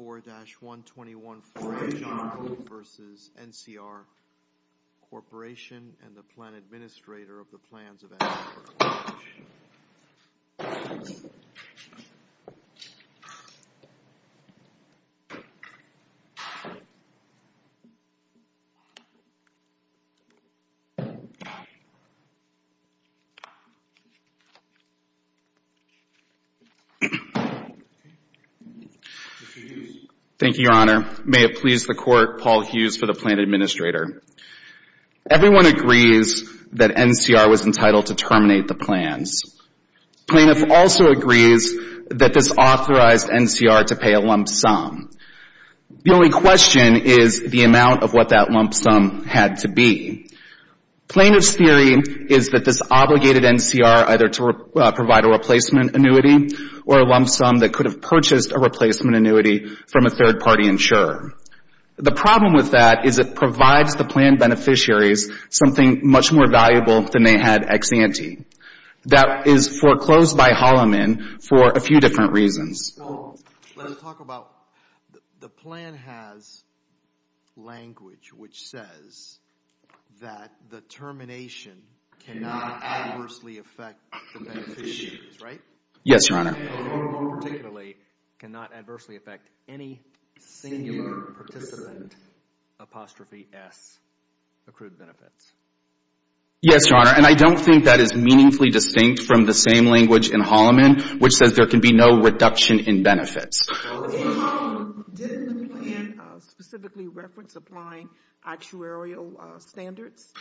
24-1214 John Hoak v. NCR Corporation and the Plan Administrator of the Plans of NCR Corporation. Mr. Hughes. Thank you, Your Honor. May it please the Court, Paul Hughes for the Plan Administrator. Everyone agrees that NCR was entitled to terminate the plans. Plaintiff also agrees that this authorized NCR to pay a lump sum. The only question is the amount of what that lump sum had to be. Plaintiff's theory is that this obligated NCR either to provide a replacement annuity or a lump sum that could have purchased a replacement annuity from a third-party insurer. The problem with that is it provides the plan beneficiaries something much more valuable than they had ex ante. That is foreclosed by Holloman for a few different reasons. The plan has language which says that the termination cannot adversely affect the beneficiaries, right? Yes, Your Honor. And more particularly, cannot adversely affect any singular participant, apostrophe S, accrued benefits. Yes, Your Honor, and I don't think that is meaningfully distinct from the same language in Holloman which says that there can be no reduction in benefits. Did the plan specifically reference applying actuarial standards?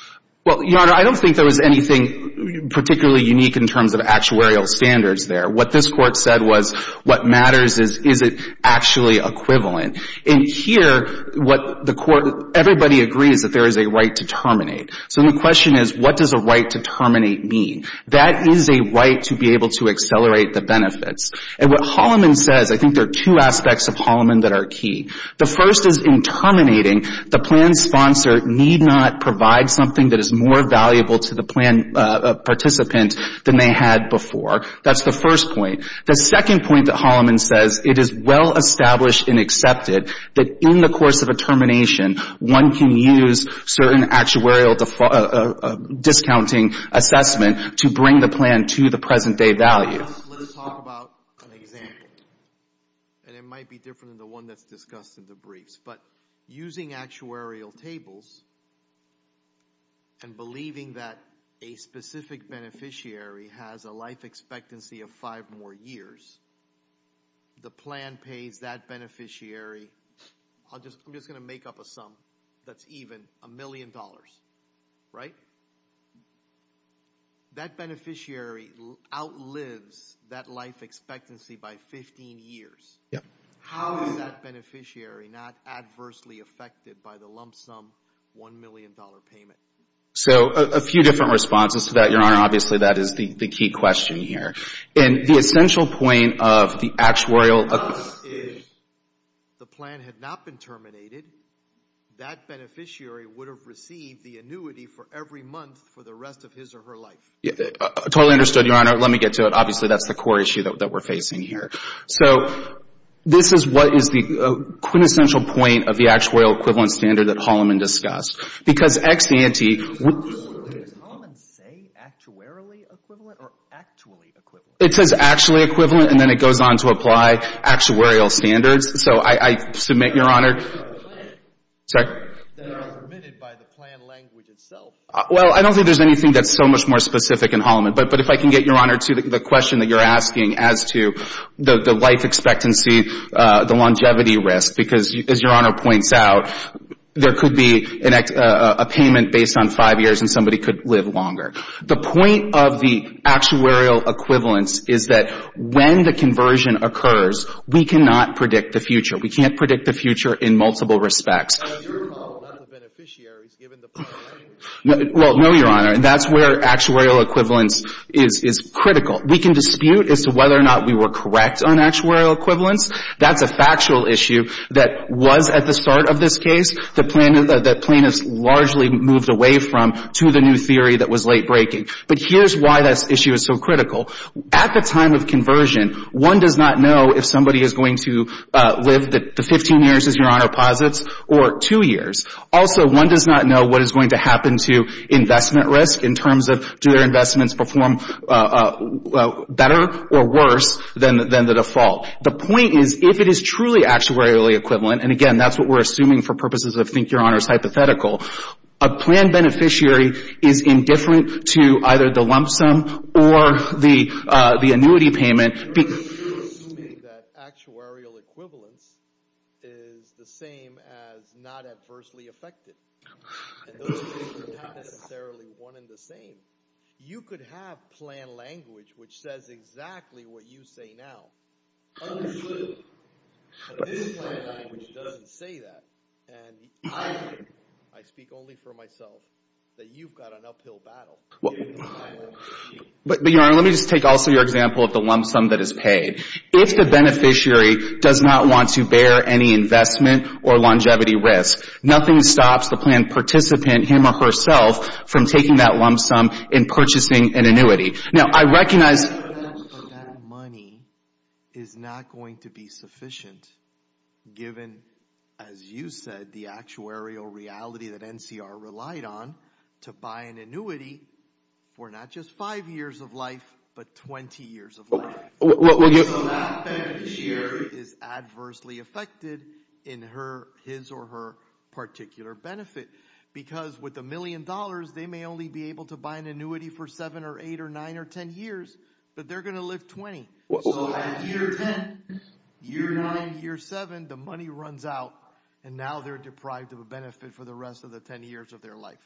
Well, Your Honor, I don't think there was anything particularly unique in terms of actuarial standards there. What this Court said was what matters is, is it actually equivalent? And here what the Court, everybody agrees that there is a right to terminate. So the question is, what does a right to terminate mean? That is a right to be able to accelerate the benefits. And what Holloman says, I think there are two aspects of Holloman that are key. The first is in terminating, the plan sponsor need not provide something that is more valuable to the plan participant than they had before. That's the first point. The second point that Holloman says, it is well established and accepted that in the course of a termination, one can use certain actuarial discounting assessment to bring the plan to the present day value. Let's talk about an example. And it might be different than the one that's discussed in the briefs. But using actuarial tables and believing that a specific beneficiary has a life expectancy of five more years, the plan pays that beneficiary, I'm just going to make up a sum that's even a million dollars, right? That beneficiary outlives that life expectancy by 15 years. How is that beneficiary not adversely affected by the lump sum $1 million payment? So a few different responses to that, Your Honor. Obviously, that is the key question here. And the essential point of the actuarial... ...is the plan had not been terminated, that beneficiary would have received the annuity for every month for the rest of his or her life. Totally understood, Your Honor. Let me get to it. Obviously, that's the core issue that we're facing here. So this is what is the quintessential point of the actuarial equivalent standard that Holloman discussed. Because ex-ante... Does Holloman say actuarially equivalent or actually equivalent? It says actually equivalent, and then it goes on to apply actuarial standards. So I submit, Your Honor... ...that it was submitted by the plan language itself. Well, I don't think there's anything that's so much more specific in Holloman. But if I can get, Your Honor, to the question that you're asking as to the life expectancy, the longevity risk, because as Your Honor points out, there could be a payment based on five years and somebody could live longer. The point of the actuarial equivalence is that when the conversion occurs, we cannot predict the future. We can't predict the future in multiple respects. But as you recall, that's the beneficiaries given the plan language. Well, no, Your Honor. That's where actuarial equivalence is critical. We can dispute as to whether or not we were correct on actuarial equivalence. That's a factual issue that was at the start of this case that plaintiffs largely moved away from to the new theory that was late-breaking. But here's why this issue is so critical. At the time of conversion, one does not know if somebody is going to live the 15 years, as Your Honor posits, or two years. Also, one does not know what is going to happen to investment risk in terms of do their investments perform better or worse than the default. The point is, if it is truly actuarially equivalent, and again, that's what we're assuming for purposes of, I think, Your Honor's hypothetical, a plan beneficiary is indifferent to either the lump sum or the annuity payment. You're assuming that actuarial equivalence is the same as not adversely affected. And those things are not necessarily one and the same. You could have plan language which says exactly what you say now. But this plan language doesn't say that. And I think, I speak only for myself, that you've got an uphill battle. But Your Honor, let me just take also your example of the lump sum that is paid. If the beneficiary does not want to bear any investment or longevity risk, nothing stops the plan participant, him or herself, from taking that lump sum and purchasing an annuity. Now, I recognize that money is not going to be sufficient, given, as you said, the actuarial reality that NCR relied on to buy an annuity for not just five years of life, but 20 years of life. So that beneficiary is adversely affected in his or her particular benefit. Because with a million dollars, they may only be able to buy an annuity for seven or eight or nine or ten years, but they're going to live 20. So at year 10, year 9, year 7, the money runs out and now they're deprived of a benefit for the rest of the 10 years of their life.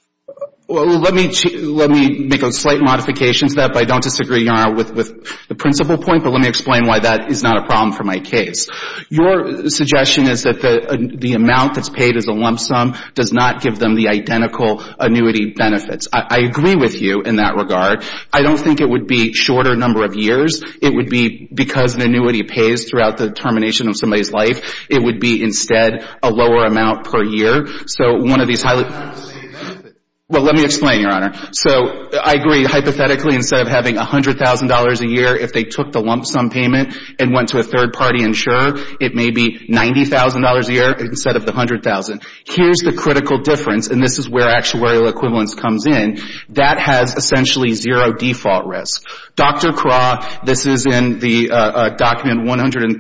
Let me make a slight modification to that, but I don't disagree, Your Honor, with the principal point. But let me explain why that is not a problem for my case. Your suggestion is that the amount that's paid as a lump sum does not give them the identical annuity benefits. I agree with you in that regard. I don't think it would be a shorter number of years. It would be, because an annuity pays throughout the termination of somebody's life, it would be instead a lower amount per year. So one of these highly — Well, let me explain, Your Honor. So I agree, hypothetically, instead of having $100,000 a year, if they took the lump sum payment and went to a third-party insurer, it may be $90,000 a year instead of the $100,000. Here's the critical difference, and this is where actuarial equivalence comes in. That has essentially zero default risk. Dr. Krah, this is in the document 136-7,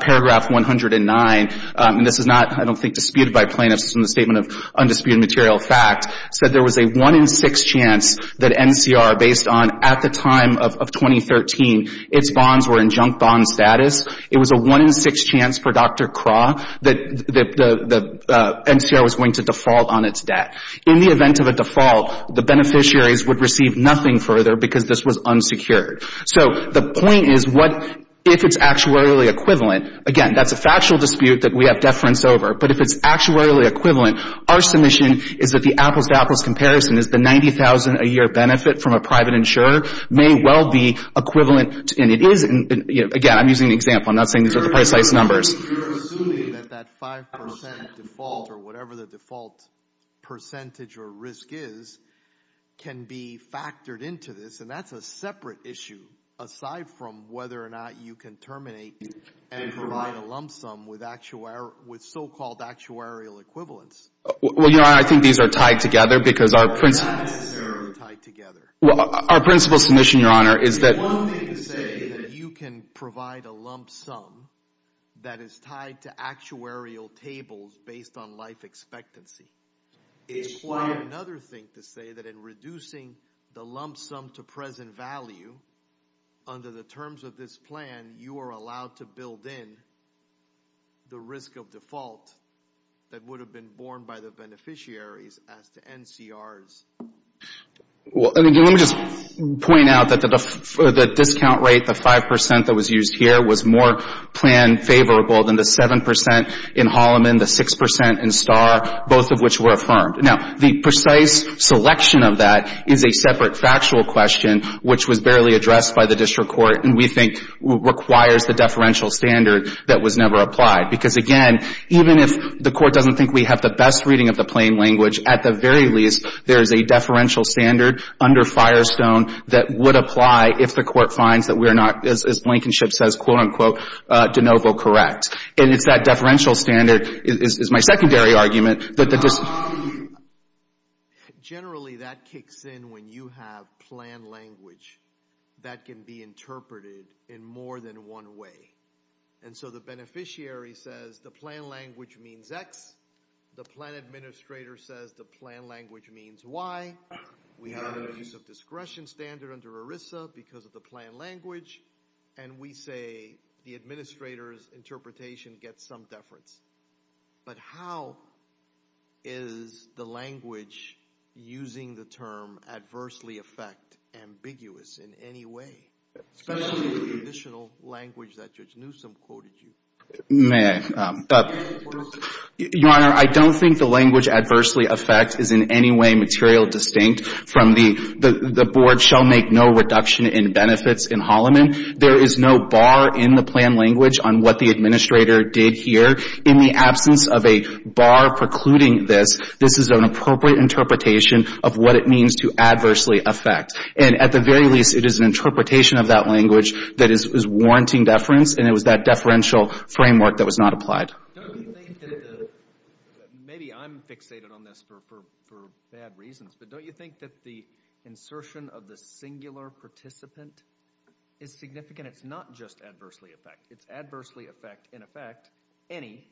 paragraph 109, and this is not, I don't think, disputed by plaintiffs in the Statement of Undisputed Material Fact, said there was a one in six chance that NCR, based on, at the time of 2013, its bonds were in junk bond status. It was a one in six chance for Dr. Krah that NCR was going to default on its debt. In the event of a default, the beneficiaries would receive nothing further because this was unsecured. So the point is, what — if it's actuarially equivalent, again, that's a factual dispute that we have deference over. But if it's actuarially equivalent, our submission is that the apples-to-apples comparison is the $90,000 a year benefit from a private insurer may well be equivalent, and it is — again, I'm using an example, I'm not saying these are the precise numbers. You're assuming that that 5% default, or whatever the default percentage or risk is, can be factored into this, and that's a separate issue, aside from whether or not you can terminate and provide a lump sum with so-called actuarial equivalence. Well, Your Honor, I think these are tied together because our — Not necessarily tied together. Our principal submission, Your Honor, is that — It's one thing to say that you can provide a lump sum that is tied to actuarial tables based on life expectancy. It's quite another thing to say that in reducing the lump sum to present value, under the terms of this plan, you are allowed to build in the risk of default that would have been borne by the beneficiaries as to NCRs. Well, let me just point out that the discount rate, the 5% that was used here, was more plan favorable than the 7% in Holloman, the 6% in Starr, both of which were affirmed. Now, the precise selection of that is a separate factual question, which was barely addressed by the district court, and we think requires the deferential standard that was never applied. Because, again, even if the Court doesn't think we have the best reading of the plain language, at the very least, there is a deferential standard under Firestone that would apply if the Court finds that we are not, as Lankinship says, quote, unquote, de novo correct. And it's that deferential standard is my secondary argument that the dis — Generally, that kicks in when you have plan language that can be interpreted in more than one way. And so the beneficiary says the plan language means X, the plan administrator says the plan language means Y, we have a use of discretion standard under ERISA because of the plan language, and we say the administrator's interpretation gets some deference. But how is the language using the term adversely affect ambiguous in any way, especially the traditional language that Judge Newsom quoted you? May I? Your Honor, I don't think the language adversely affect is in any way material distinct from the — the board shall make no reduction in benefits in Holloman. There is no bar in the plan language on what the administrator did here. In the absence of a bar precluding this, this is an appropriate interpretation of what it means to adversely affect. And at the very least, it is an interpretation of that language that is — is warranting deference, and it was that deferential framework that was not applied. Don't you think that the — maybe I'm fixated on this for bad reasons, but don't you think that the insertion of the singular participant is significant? It's not just adversely affect. It's adversely affect, in effect, any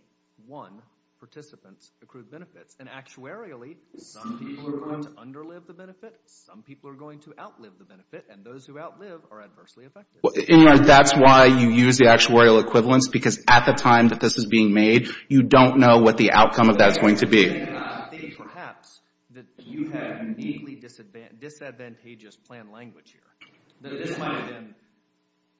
one participant's accrued benefits. And actuarially, some people are going to underlive the benefit, some people are going to outlive the benefit, and those who outlive are adversely affected. In other words, that's why you use the actuarial equivalence, because at the time that this is being made, you don't know what the outcome of that is going to be. I think, perhaps, that you have a deeply disadvantageous plan language here. This might have been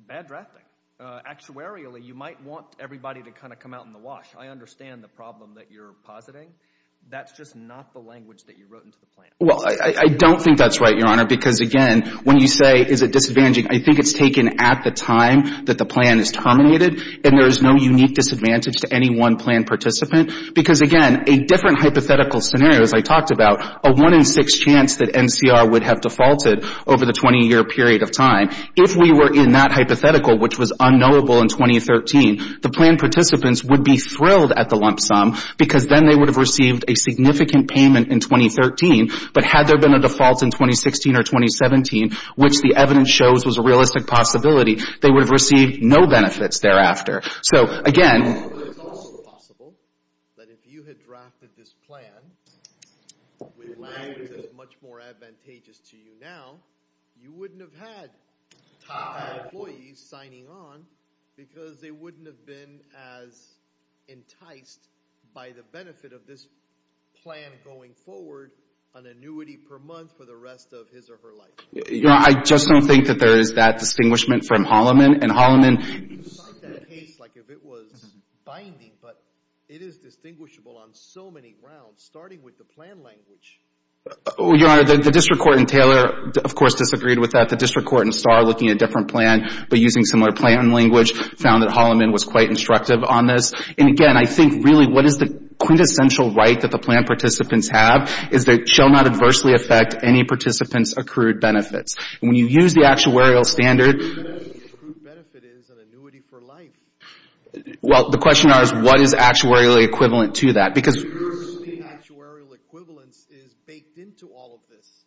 bad drafting. Actuarially, you might want everybody to kind of come out in the wash. I understand the problem that you're positing. That's just not the language that you wrote into the plan. Well, I don't think that's right, Your Honor, because, again, when you say, is it disadvantaging, I think it's taken at the time that the plan is terminated, and there is no unique disadvantage to any one plan participant, because, again, a different hypothetical scenario, as I talked about, a one in six chance that NCR would have defaulted over the 20-year period of time, if we were in that hypothetical, which was unknowable in 2013, the plan participants would be thrilled at the lump sum, because then they would have received a significant payment in 2013, but had there been a default in 2016 or 2017, which the evidence shows was a realistic possibility, they would have received no benefits thereafter. So, again... But it's also possible that if you had drafted this plan with language that's much more advantageous to you now, you wouldn't have had top-high employees signing on, because they wouldn't have been as enticed by the benefit of this plan going forward, an annuity per month for the rest of his or her life. Your Honor, I just don't think that there is that distinguishment from Holloman, and You can cite that case like if it was binding, but it is distinguishable on so many rounds, starting with the plan language. Your Honor, the District Court in Taylor, of course, disagreed with that. The District Court in Starr, looking at a different plan, but using similar plan language, found that Holloman was quite instructive on this. And, again, I think, really, what is the quintessential right that the plan participants have is that it shall not adversely affect any participant's accrued benefits. When you use the actuarial standard... ...accrued benefit is an annuity for life. Well, the question now is what is actuarially equivalent to that, because... ...actuarial equivalence is baked into all of this.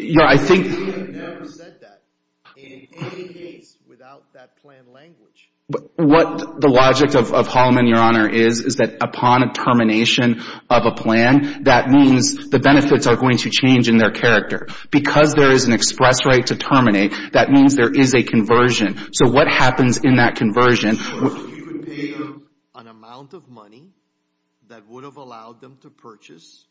Your Honor, I think... We have never said that in any case without that plan language. What the logic of Holloman, Your Honor, is, is that upon a termination of a plan, that means the benefits are going to change in their character. Because there is an express right to terminate, that means there is a conversion. So what happens in that conversion... So you would pay them an amount of money that would have allowed them to purchase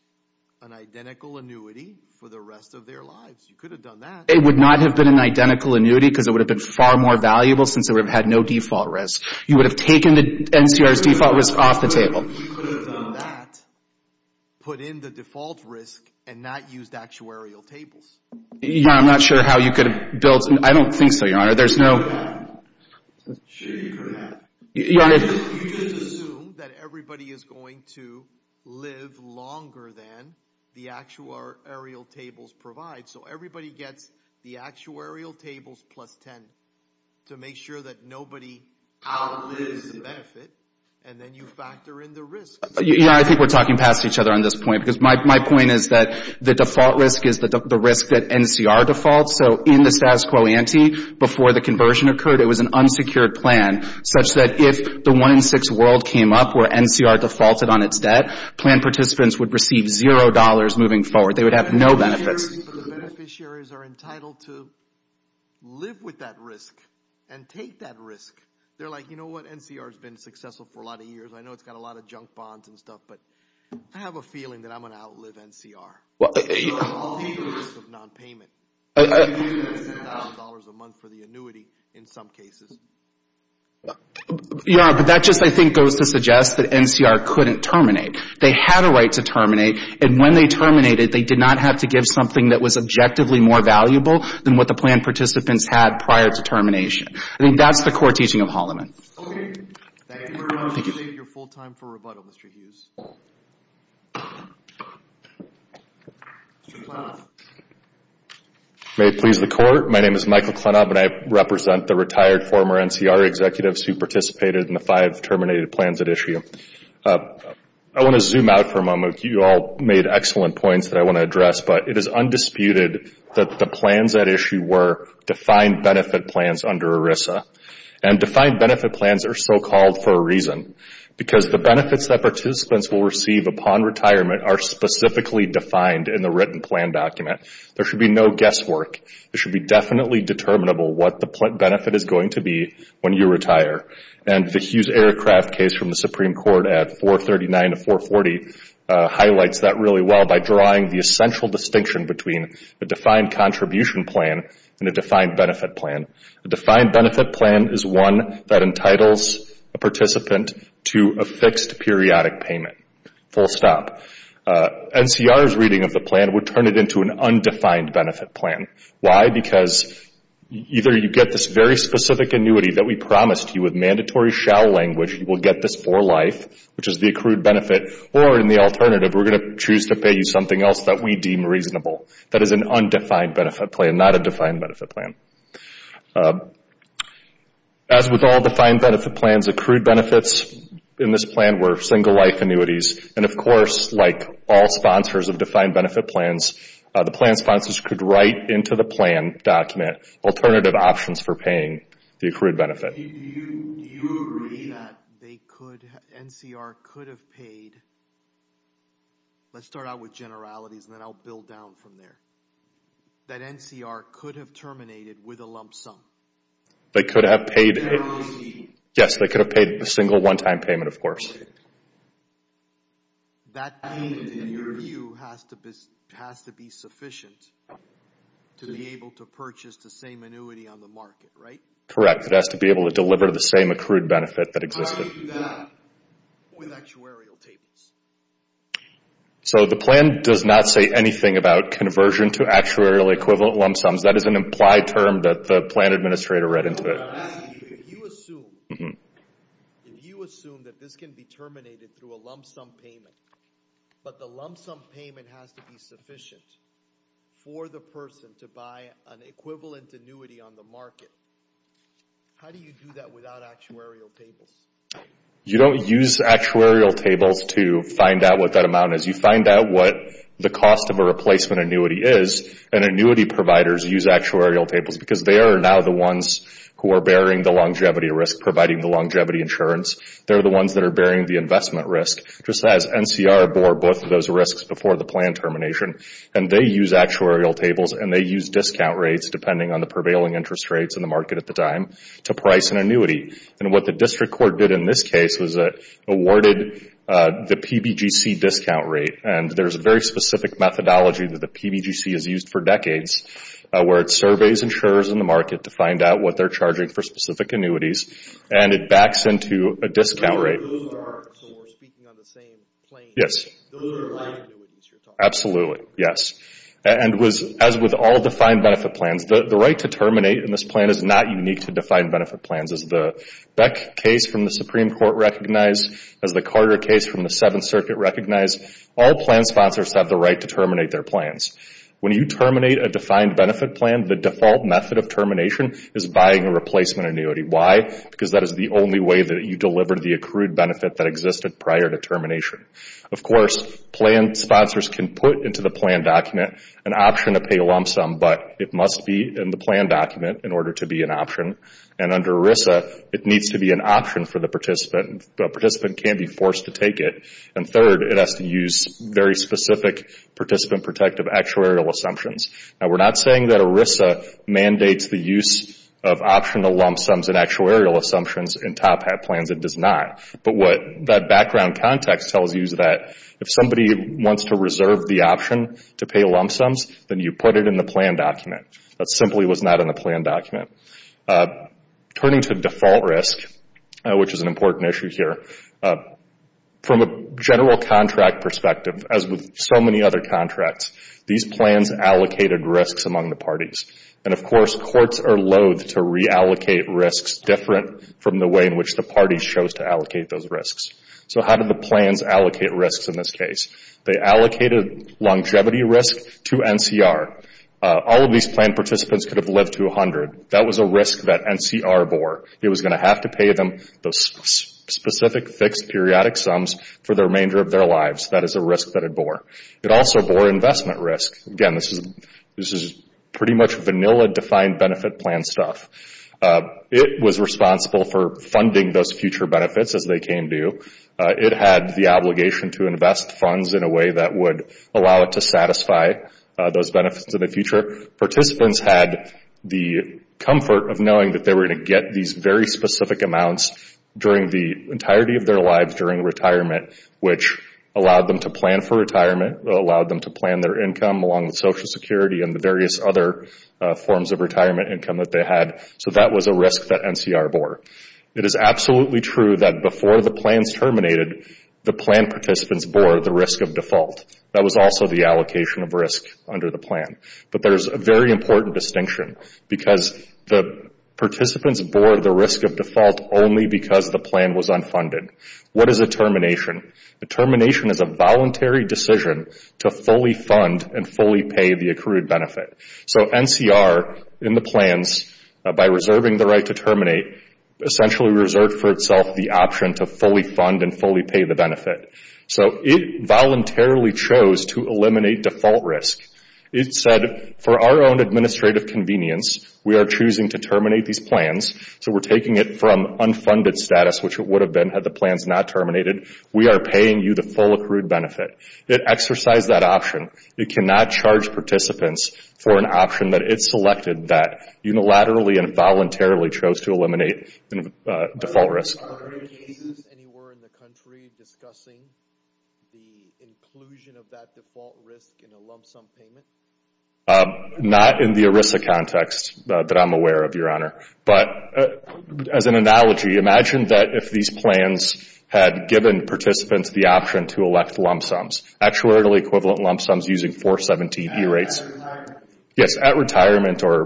an identical annuity for the rest of their lives. You could have done that. It would not have been an identical annuity, because it would have been far more valuable since it would have had no default risk. You would have taken the NCR's default risk off the table. You could have done that, put in the default risk, and not used actuarial tables. Your Honor, I'm not sure how you could have built... I don't think so, Your Honor. There's no... Sure you could have. Your Honor... You just assume that everybody is going to live longer than the actuarial tables provide. So everybody gets the actuarial tables plus 10 to make sure that nobody outlives the benefit. And then you factor in the risk. Your Honor, I think we're talking past each other on this point. Because my point is that the default risk is the risk that NCR defaults. So in the status quo ante, before the conversion occurred, it was an unsecured plan. Such that if the 1 in 6 world came up where NCR defaulted on its debt, plan participants would receive zero dollars moving forward. They would have no benefits. But the beneficiaries are entitled to live with that risk and take that risk. They're like, you know what? NCR has been successful for a lot of years. I know it's got a lot of junk bonds and stuff. But I have a feeling that I'm going to outlive NCR. So I'll leave the risk of nonpayment. I'm using that $10,000 a month for the annuity in some cases. Your Honor, but that just I think goes to suggest that NCR couldn't terminate. They had a right to terminate. And when they terminated, they did not have to give something that was objectively more valuable than what the plan participants had prior to termination. I think that's the core teaching of Holliman. May it please the Court. My name is Michael Klenop and I represent the retired former NCR executives who participated in the five terminated plans at issue. I want to zoom out for a moment. You all made excellent points that I want to address. But it is undisputed that the plans at issue were defined benefit plans under ERISA. And defined benefit plans are so called for a reason. Because the benefits that participants will receive upon retirement are specifically defined in the written plan document. There should be no guesswork. It should be definitely determinable what the benefit is going to be when you retire. And the Hughes Aircraft case from the Supreme Court at 439 to 440 highlights that really well by drawing the essential distinction between a defined contribution plan and a defined benefit plan. A defined benefit plan is one that entitles a participant to a fixed periodic payment. Full stop. NCR's reading of the plan would turn it into an undefined benefit plan. Why? Because either you get this very specific annuity that we promised you with mandatory shall language, you will get this for life, which is the accrued benefit. Or in the alternative, we're going to choose to pay you something else that we deem reasonable. That is an undefined benefit plan, not a defined benefit plan. As with all defined benefit plans, accrued benefits in this plan were single life annuities. And of course, like all sponsors of defined benefit plans, the plan sponsors could write into the plan document alternative options for paying the accrued benefit. Do you agree that NCR could have paid, let's start out with generalities and then I'll build down from there, that NCR could have terminated with a lump sum? They could have paid, yes, they could have paid a single one-time payment, of course. That payment, in your view, has to be sufficient to be able to purchase the same annuity on the market, right? Correct, it has to be able to deliver the same accrued benefit that existed. How do you do that with actuarial tables? So the plan does not say anything about conversion to actuarial equivalent lump sums. That is an implied term that the plan administrator read into it. If you assume that this can be terminated through a lump sum payment, but the lump sum payment has to be sufficient for the person to buy an equivalent annuity on the market, how do you do that without actuarial tables? You don't use actuarial tables to find out what that amount is. You find out what the cost of a replacement annuity is and annuity providers use actuarial tables because they are now the ones who are bearing the longevity risk, providing the longevity insurance. They're the ones that are bearing the investment risk, just as NCR bore both of those risks before the plan termination. And they use actuarial tables and they use discount rates depending on the prevailing interest rates in the market at the time to price an annuity. And what the district court did in this case was awarded the PBGC discount rate. And there's a very specific methodology that the PBGC has used for decades where it surveys insurers in the market to find out what they're charging for specific annuities and it backs into a discount rate. So we're speaking on the same plane? Yes. Those are life annuities you're talking about? Absolutely, yes. And as with all defined benefit plans, the right to terminate in this plan is not unique to defined benefit plans. As the Beck case from the Supreme Court recognized, as the Carter case from the Seventh Circuit recognized, all plan sponsors have the right to terminate their plans. When you terminate a defined benefit plan, the default method of termination is buying a replacement annuity. Why? Because that is the only way that you deliver the accrued benefit that existed prior to termination. Of course, plan sponsors can put into the plan document an option to pay a lump sum, but it must be in the plan document in order to be an option. And under ERISA, it needs to be an option for the participant. The participant can't be forced to take it. And third, it has to use very specific participant-protective actuarial assumptions. Now, we're not saying that ERISA mandates the use of optional lump sums and actuarial assumptions in top-hat plans. It does not. But what that background context tells you is that if somebody wants to reserve the option to pay lump sums, then you put it in the plan document. That simply was not in the plan document. Turning to default risk, which is an important issue here, from a general contract perspective, as with so many other contracts, these plans allocated risks among the parties. And, of course, courts are loathe to reallocate risks different from the way in which the parties chose to allocate those risks. So how did the plans allocate risks in this case? They allocated longevity risk to NCR. All of these plan participants could have lived to 100. That was a risk that NCR bore. It was going to have to pay them those specific fixed periodic sums for the remainder of their lives. That is a risk that it bore. It also bore investment risk. Again, this is pretty much vanilla defined benefit plan stuff. It was responsible for funding those future benefits as they came due. It had the obligation to invest funds in a way that would allow it to satisfy those benefits in the future. Participants had the comfort of knowing that they were going to get these very specific amounts during the entirety of their lives during retirement, which allowed them to plan for retirement, allowed them to plan their income along with Social Security and the various other forms of retirement income that they had. So that was a risk that NCR bore. It is absolutely true that before the plans terminated, the plan participants bore the risk of default. That was also the allocation of risk under the plan. But there is a very important distinction because the participants bore the risk of default only because the plan was unfunded. What is a termination? A termination is a voluntary decision to fully fund and fully pay the accrued benefit. NCR, in the plans, by reserving the right to terminate, essentially reserved for itself the option to fully fund and fully pay the benefit. It voluntarily chose to eliminate default risk. It said, for our own administrative convenience, we are choosing to terminate these plans. We are taking it from unfunded status, which it would have been had the plans not terminated. We are paying you the full accrued benefit. It exercised that option. It cannot charge participants for an option that it selected that unilaterally and voluntarily chose to eliminate default risk. Are there cases anywhere in the country discussing the inclusion of that default risk in a lump sum payment? Not in the ERISA context that I'm aware of, Your Honor. But as an analogy, imagine that if these plans had given participants the option to elect lump sums, actuarially equivalent lump sums using 417 E-rates. Yes, at retirement or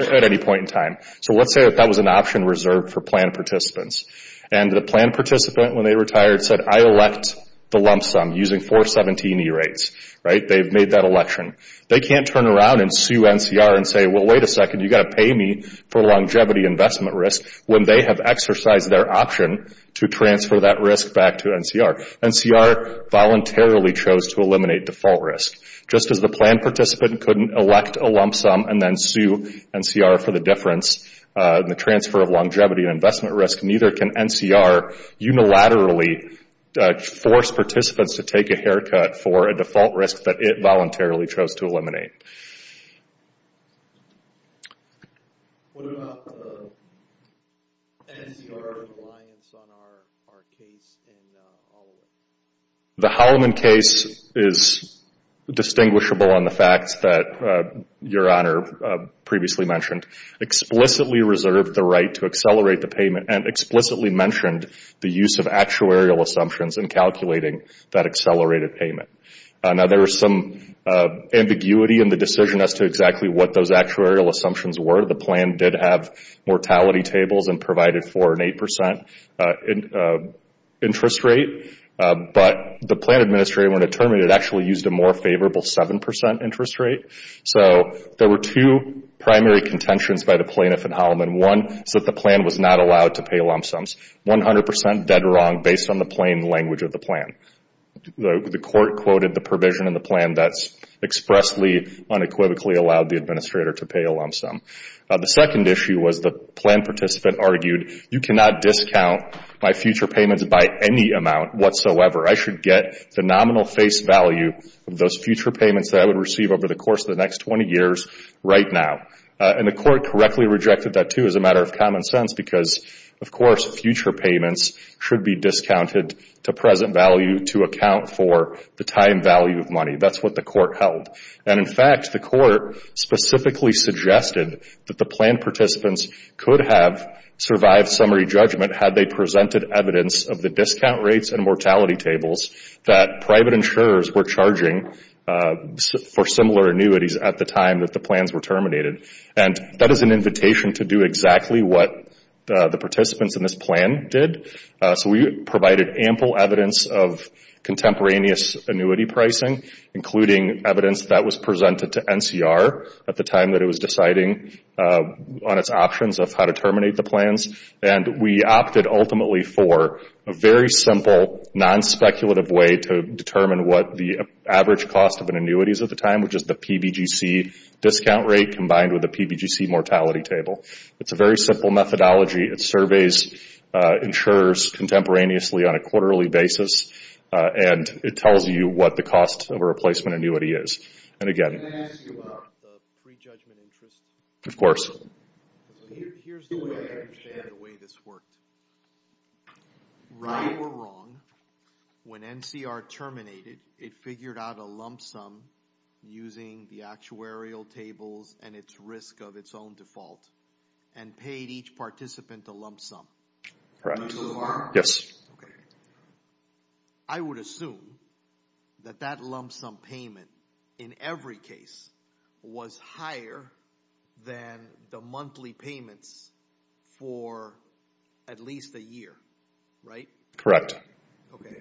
at any point in time. Let's say that was an option reserved for plan participants. The plan participant, when they retired, said, I elect the lump sum using 417 E-rates. They've made that election. They can't turn around and sue NCR and say, wait a second, you've got to pay me for longevity investment risk when they have exercised their option to transfer that risk back to NCR. NCR voluntarily chose to eliminate default risk. Just as the plan participant couldn't elect a lump sum and then sue NCR for the difference, the transfer of longevity and investment risk, neither can NCR unilaterally force participants to take a haircut for a default risk that it voluntarily chose to eliminate. What about NCR's reliance on our case in Holloman? The Holloman case is distinguishable on the facts that Your Honor previously mentioned. Explicitly reserved the right to accelerate the payment and explicitly mentioned the use of actuarial assumptions in calculating that accelerated payment. Now, there is some ambiguity in the decision as to exactly what those actuarial assumptions were. The plan did have mortality tables and provided for an 8% interest rate. But the plan administrator, when it terminated, actually used a more favorable 7% interest rate. So there were two primary contentions by the plaintiff in Holloman. One is that the plan was not allowed to pay lump sums. 100% dead wrong based on the plain language of the plan. The court quoted the provision in the plan that expressly unequivocally allowed the administrator to pay a lump sum. The second issue was the plan participant argued, you cannot discount my future payments by any amount whatsoever. I should get the nominal face value of those future payments that I would receive over the course of the next 20 years right now. And the court correctly rejected that too as a matter of common sense because, of course, future payments should be discounted to present value to account for the time value of money. That's what the court held. And, in fact, the court specifically suggested that the plan participants could have survived summary judgment had they presented evidence of the discount rates and mortality tables that private insurers were charging for similar annuities at the time that the plans were terminated. And that is an invitation to do exactly what the participants in this plan did. So we provided ample evidence of contemporaneous annuity pricing, including evidence that was presented to NCR at the time that it was deciding on its options of how to terminate the plans. And we opted ultimately for a very simple, non-speculative way to determine what the average cost of an annuity is at the time, which is the PBGC discount rate combined with the PBGC mortality table. It's a very simple methodology. It surveys insurers contemporaneously on a quarterly basis, and it tells you what the cost of a replacement annuity is. And, again, of course. Here's the way I understand the way this worked. Right or wrong, when NCR terminated, it figured out a lump sum using the actuarial tables and its risk of its own default and paid each participant a lump sum. Correct. Yes. Okay. I would assume that that lump sum payment, in every case, was higher than the monthly payments for at least a year, right? Correct. Okay.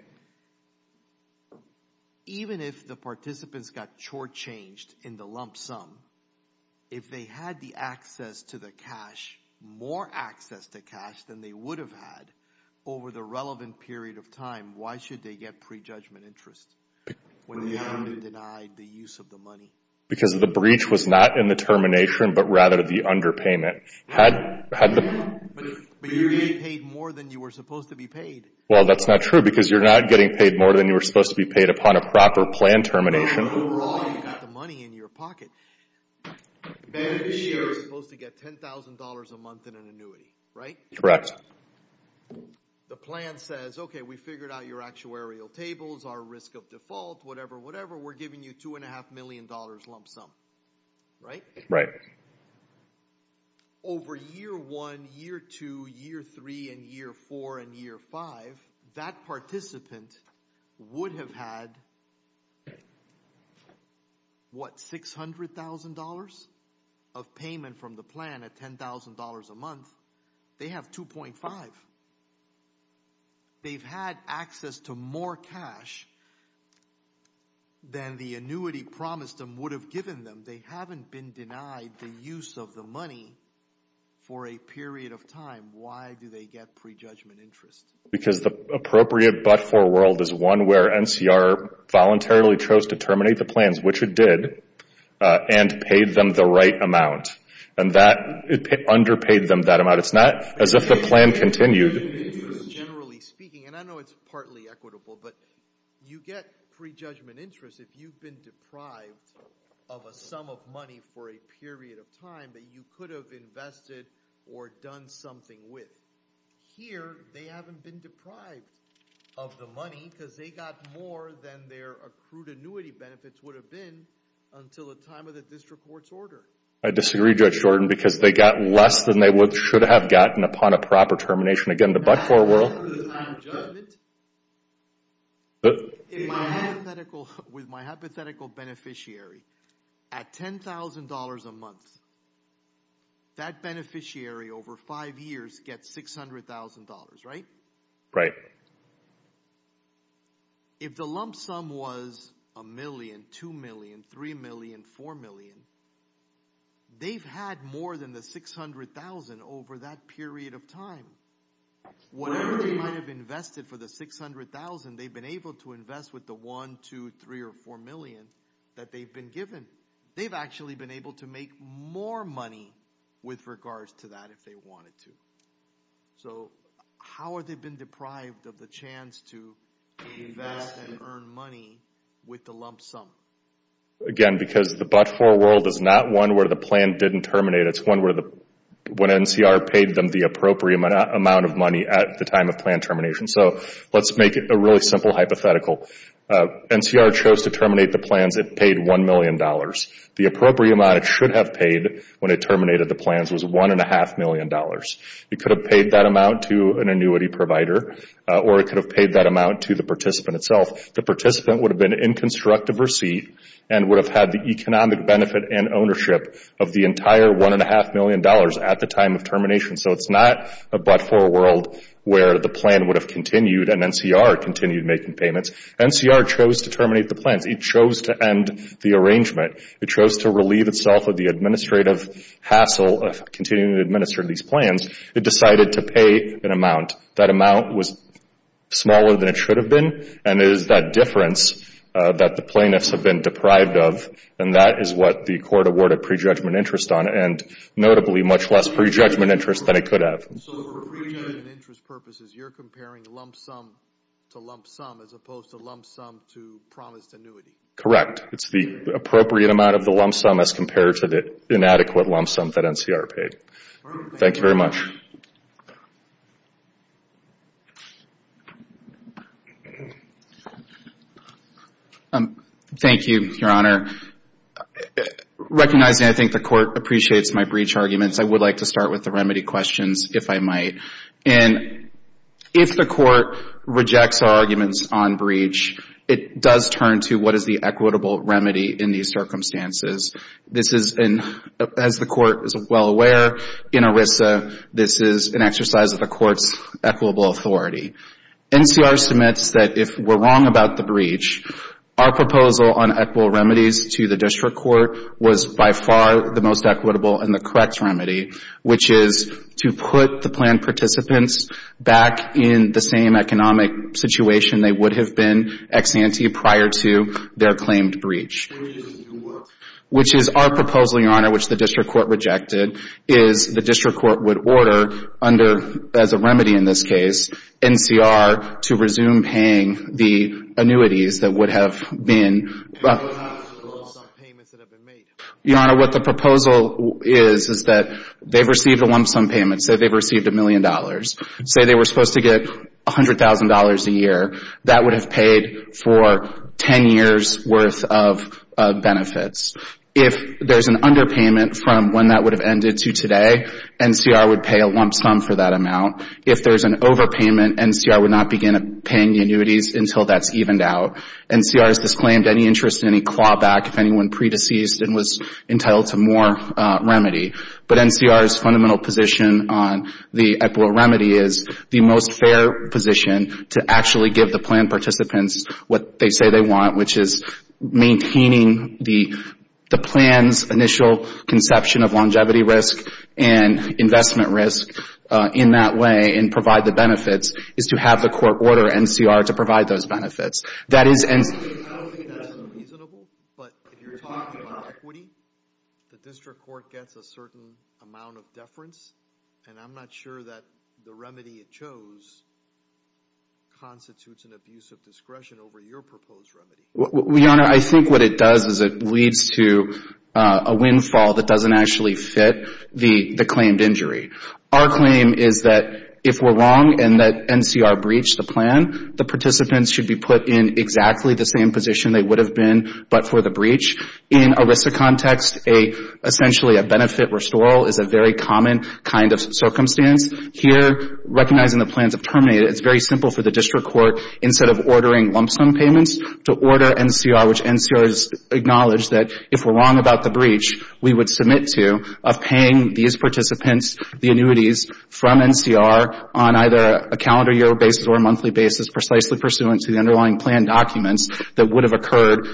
Even if the participants got shortchanged in the lump sum, if they had the access to the cash, more access to cash than they would have had over the relevant period of time, why should they get prejudgment interest when they undenied the use of the money? Because the breach was not in the termination, but rather the underpayment. But you're getting paid more than you were supposed to be paid. Well, that's not true because you're not getting paid more than you were supposed to be paid upon a proper plan termination. You're wrong. You've got the money in your pocket. Beneficiaries are supposed to get $10,000 a month in an annuity, right? Correct. The plan says, okay, we figured out your actuarial tables, our risk of default, whatever, whatever. We're giving you $2.5 million lump sum, right? Right. Over year one, year two, year three, and year four, and year five, that participant would have had, what, $600,000 of payment from the plan at $10,000 a month. They have 2.5. They've had access to more cash than the annuity promised them would have given them. They haven't been denied the use of the money for a period of time. Why do they get prejudgment interest? Because the appropriate but-for world is one where NCR voluntarily chose to terminate the plans, which it did, and paid them the right amount. And that underpaid them that amount. It's not as if the plan continued. Generally speaking, and I know it's partly equitable, but you get prejudgment interest if you've been deprived of a sum of money for a period of time that you could have invested or done something with. Here, they haven't been deprived of the money because they got more than their accrued annuity benefits would have been until the time of the district court's order. I disagree, Judge Jordan, because they got less than they should have gotten upon a proper termination. Again, the but-for world. I'm a judge. With my hypothetical beneficiary, at $10,000 a month, that beneficiary over five years gets $600,000, right? If the lump sum was $1 million, $2 million, $3 million, $4 million, they've had more than the $600,000 over that period of time. Whatever they might have invested for the $600,000, they've been able to invest with the $1, $2, $3, or $4 million that they've been given. They've actually been able to make more money with regards to that if they wanted to. How have they been deprived of the chance to invest and earn money with the lump sum? Again, because the but-for world is not one where the plan didn't terminate. It's one where NCR paid them the appropriate amount of money at the time of plan termination. Let's make a really simple hypothetical. NCR chose to terminate the plans. It paid $1 million. The appropriate amount it should have paid when it terminated the plans was $1.5 million. It could have paid that amount to an annuity provider, or it could have paid that amount to the participant itself. The participant would have been in constructive receipt and would have had the economic benefit and ownership of the entire $1.5 million at the time of termination. It's not a but-for world where the plan would have continued and NCR continued making payments. NCR chose to terminate the plans. It chose to end the arrangement. It chose to relieve itself of the administrative hassle of continuing to administer these plans. It decided to pay an amount. That amount was smaller than it should have been, and it is that difference that the plaintiffs have been deprived of, and that is what the court awarded prejudgment interest on and notably much less prejudgment interest than it could have. So for prejudgment interest purposes, you're comparing lump sum to lump sum as opposed to lump sum to promised annuity? Correct. It's the appropriate amount of the lump sum as compared to the inadequate lump sum that NCR paid. Thank you very much. Thank you, Your Honor. Recognizing I think the court appreciates my breach arguments, I would like to start with the remedy questions, if I might. And if the court rejects our arguments on breach, it does turn to what is the equitable remedy in these circumstances. This is, as the court is well aware in ERISA, this is an exercise of the court's equitable authority. NCR submits that if we're wrong about the breach, our proposal on equitable remedies to the district court was by far the most equitable and the correct remedy, which is to put the planned participants back in the same economic situation they would have been ex ante prior to their claimed breach. Which is our proposal, Your Honor, which the district court rejected, is the district court would order under, as a remedy in this case, NCR to resume paying the annuities that would have been. Your Honor, what the proposal is, is that they've received a lump sum payment. Say they've received a million dollars. Say they were supposed to get $100,000 a year. That would have paid for 10 years' worth of benefits. If there's an underpayment from when that would have ended to today, NCR would pay a lump sum for that amount. If there's an overpayment, NCR would not begin paying the annuities until that's evened out. NCR has disclaimed any interest in any clawback if anyone pre-deceased and was entitled to more remedy. But NCR's fundamental position on the equitable remedy is the most fair position to actually give the planned participants what they say they want, which is maintaining the plan's initial conception of longevity risk and investment risk in that way and provide the benefits, is to have the court order NCR to provide those benefits. I don't think that's reasonable, but if you're talking about equity, the district court gets a certain amount of deference, and I'm not sure that the remedy it chose constitutes an abuse of discretion over your proposed remedy. Your Honor, I think what it does is it leads to a windfall that doesn't actually fit the claimed injury. Our claim is that if we're wrong and that NCR breached the plan, the participants should be put in exactly the same position they would have been but for the breach. In ERISA context, essentially a benefit restoral is a very common kind of circumstance. Here, recognizing the plans have terminated, it's very simple for the district court, instead of ordering lump sum payments, to order NCR, which NCR has acknowledged that if we're wrong about the breach, we would submit to of paying these participants the annuities from NCR on either a calendar year basis or a monthly basis, precisely pursuant to the underlying plan documents, that would have occurred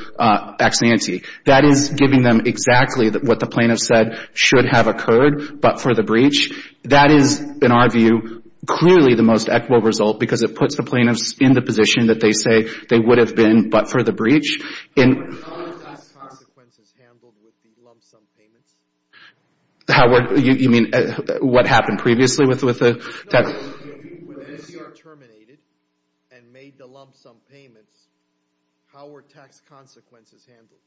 ex ante. That is giving them exactly what the plaintiff said should have occurred, but for the breach. That is, in our view, clearly the most equitable result because it puts the plaintiffs in the position that they say they would have been but for the breach. How are these consequences handled with the lump sum payments? Howard, you mean what happened previously with the tax? When NCR terminated and made the lump sum payments, how were tax consequences handled?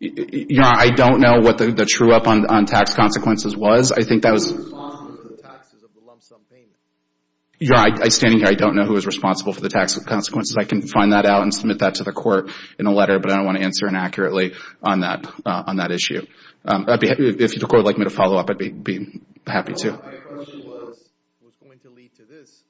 Your Honor, I don't know what the true up on tax consequences was. I think that was... Who was responsible for the taxes of the lump sum payments? Your Honor, standing here, I don't know who was responsible for the tax consequences. I can find that out and submit that to the court in a letter, but I don't want to answer inaccurately on that issue. If the court would like me to follow up, I'd be happy to. My question was going to lead to this.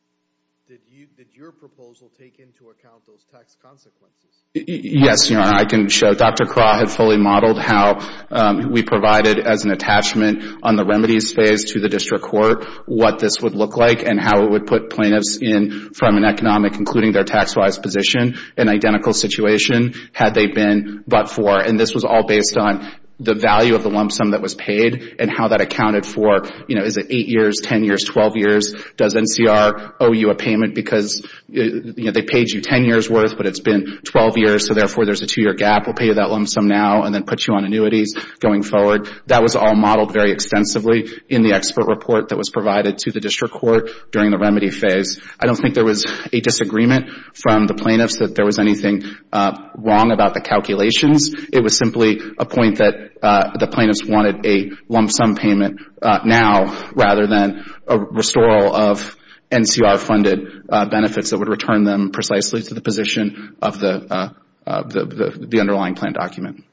Did your proposal take into account those tax consequences? Yes, Your Honor. I can show. Dr. Craw had fully modeled how we provided as an attachment on the remedies phase to the district court what this would look like and how it would put plaintiffs in from an economic, including their tax-wise position, an identical situation had they been but for. And this was all based on the value of the lump sum that was paid and how that accounted for, you know, is it 8 years, 10 years, 12 years? Does NCR owe you a payment because, you know, they paid you 10 years' worth but it's been 12 years, so therefore there's a 2-year gap. We'll pay you that lump sum now and then put you on annuities going forward. That was all modeled very extensively in the expert report that was provided to the district court during the remedy phase. I don't think there was a disagreement from the plaintiffs that there was anything wrong about the calculations. It was simply a point that the plaintiffs wanted a lump sum payment now rather than a restoral of NCR-funded benefits that would return them precisely to the position of the underlying plan document.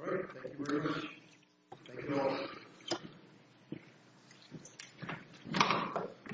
All right. Thank you very much. Thank you all.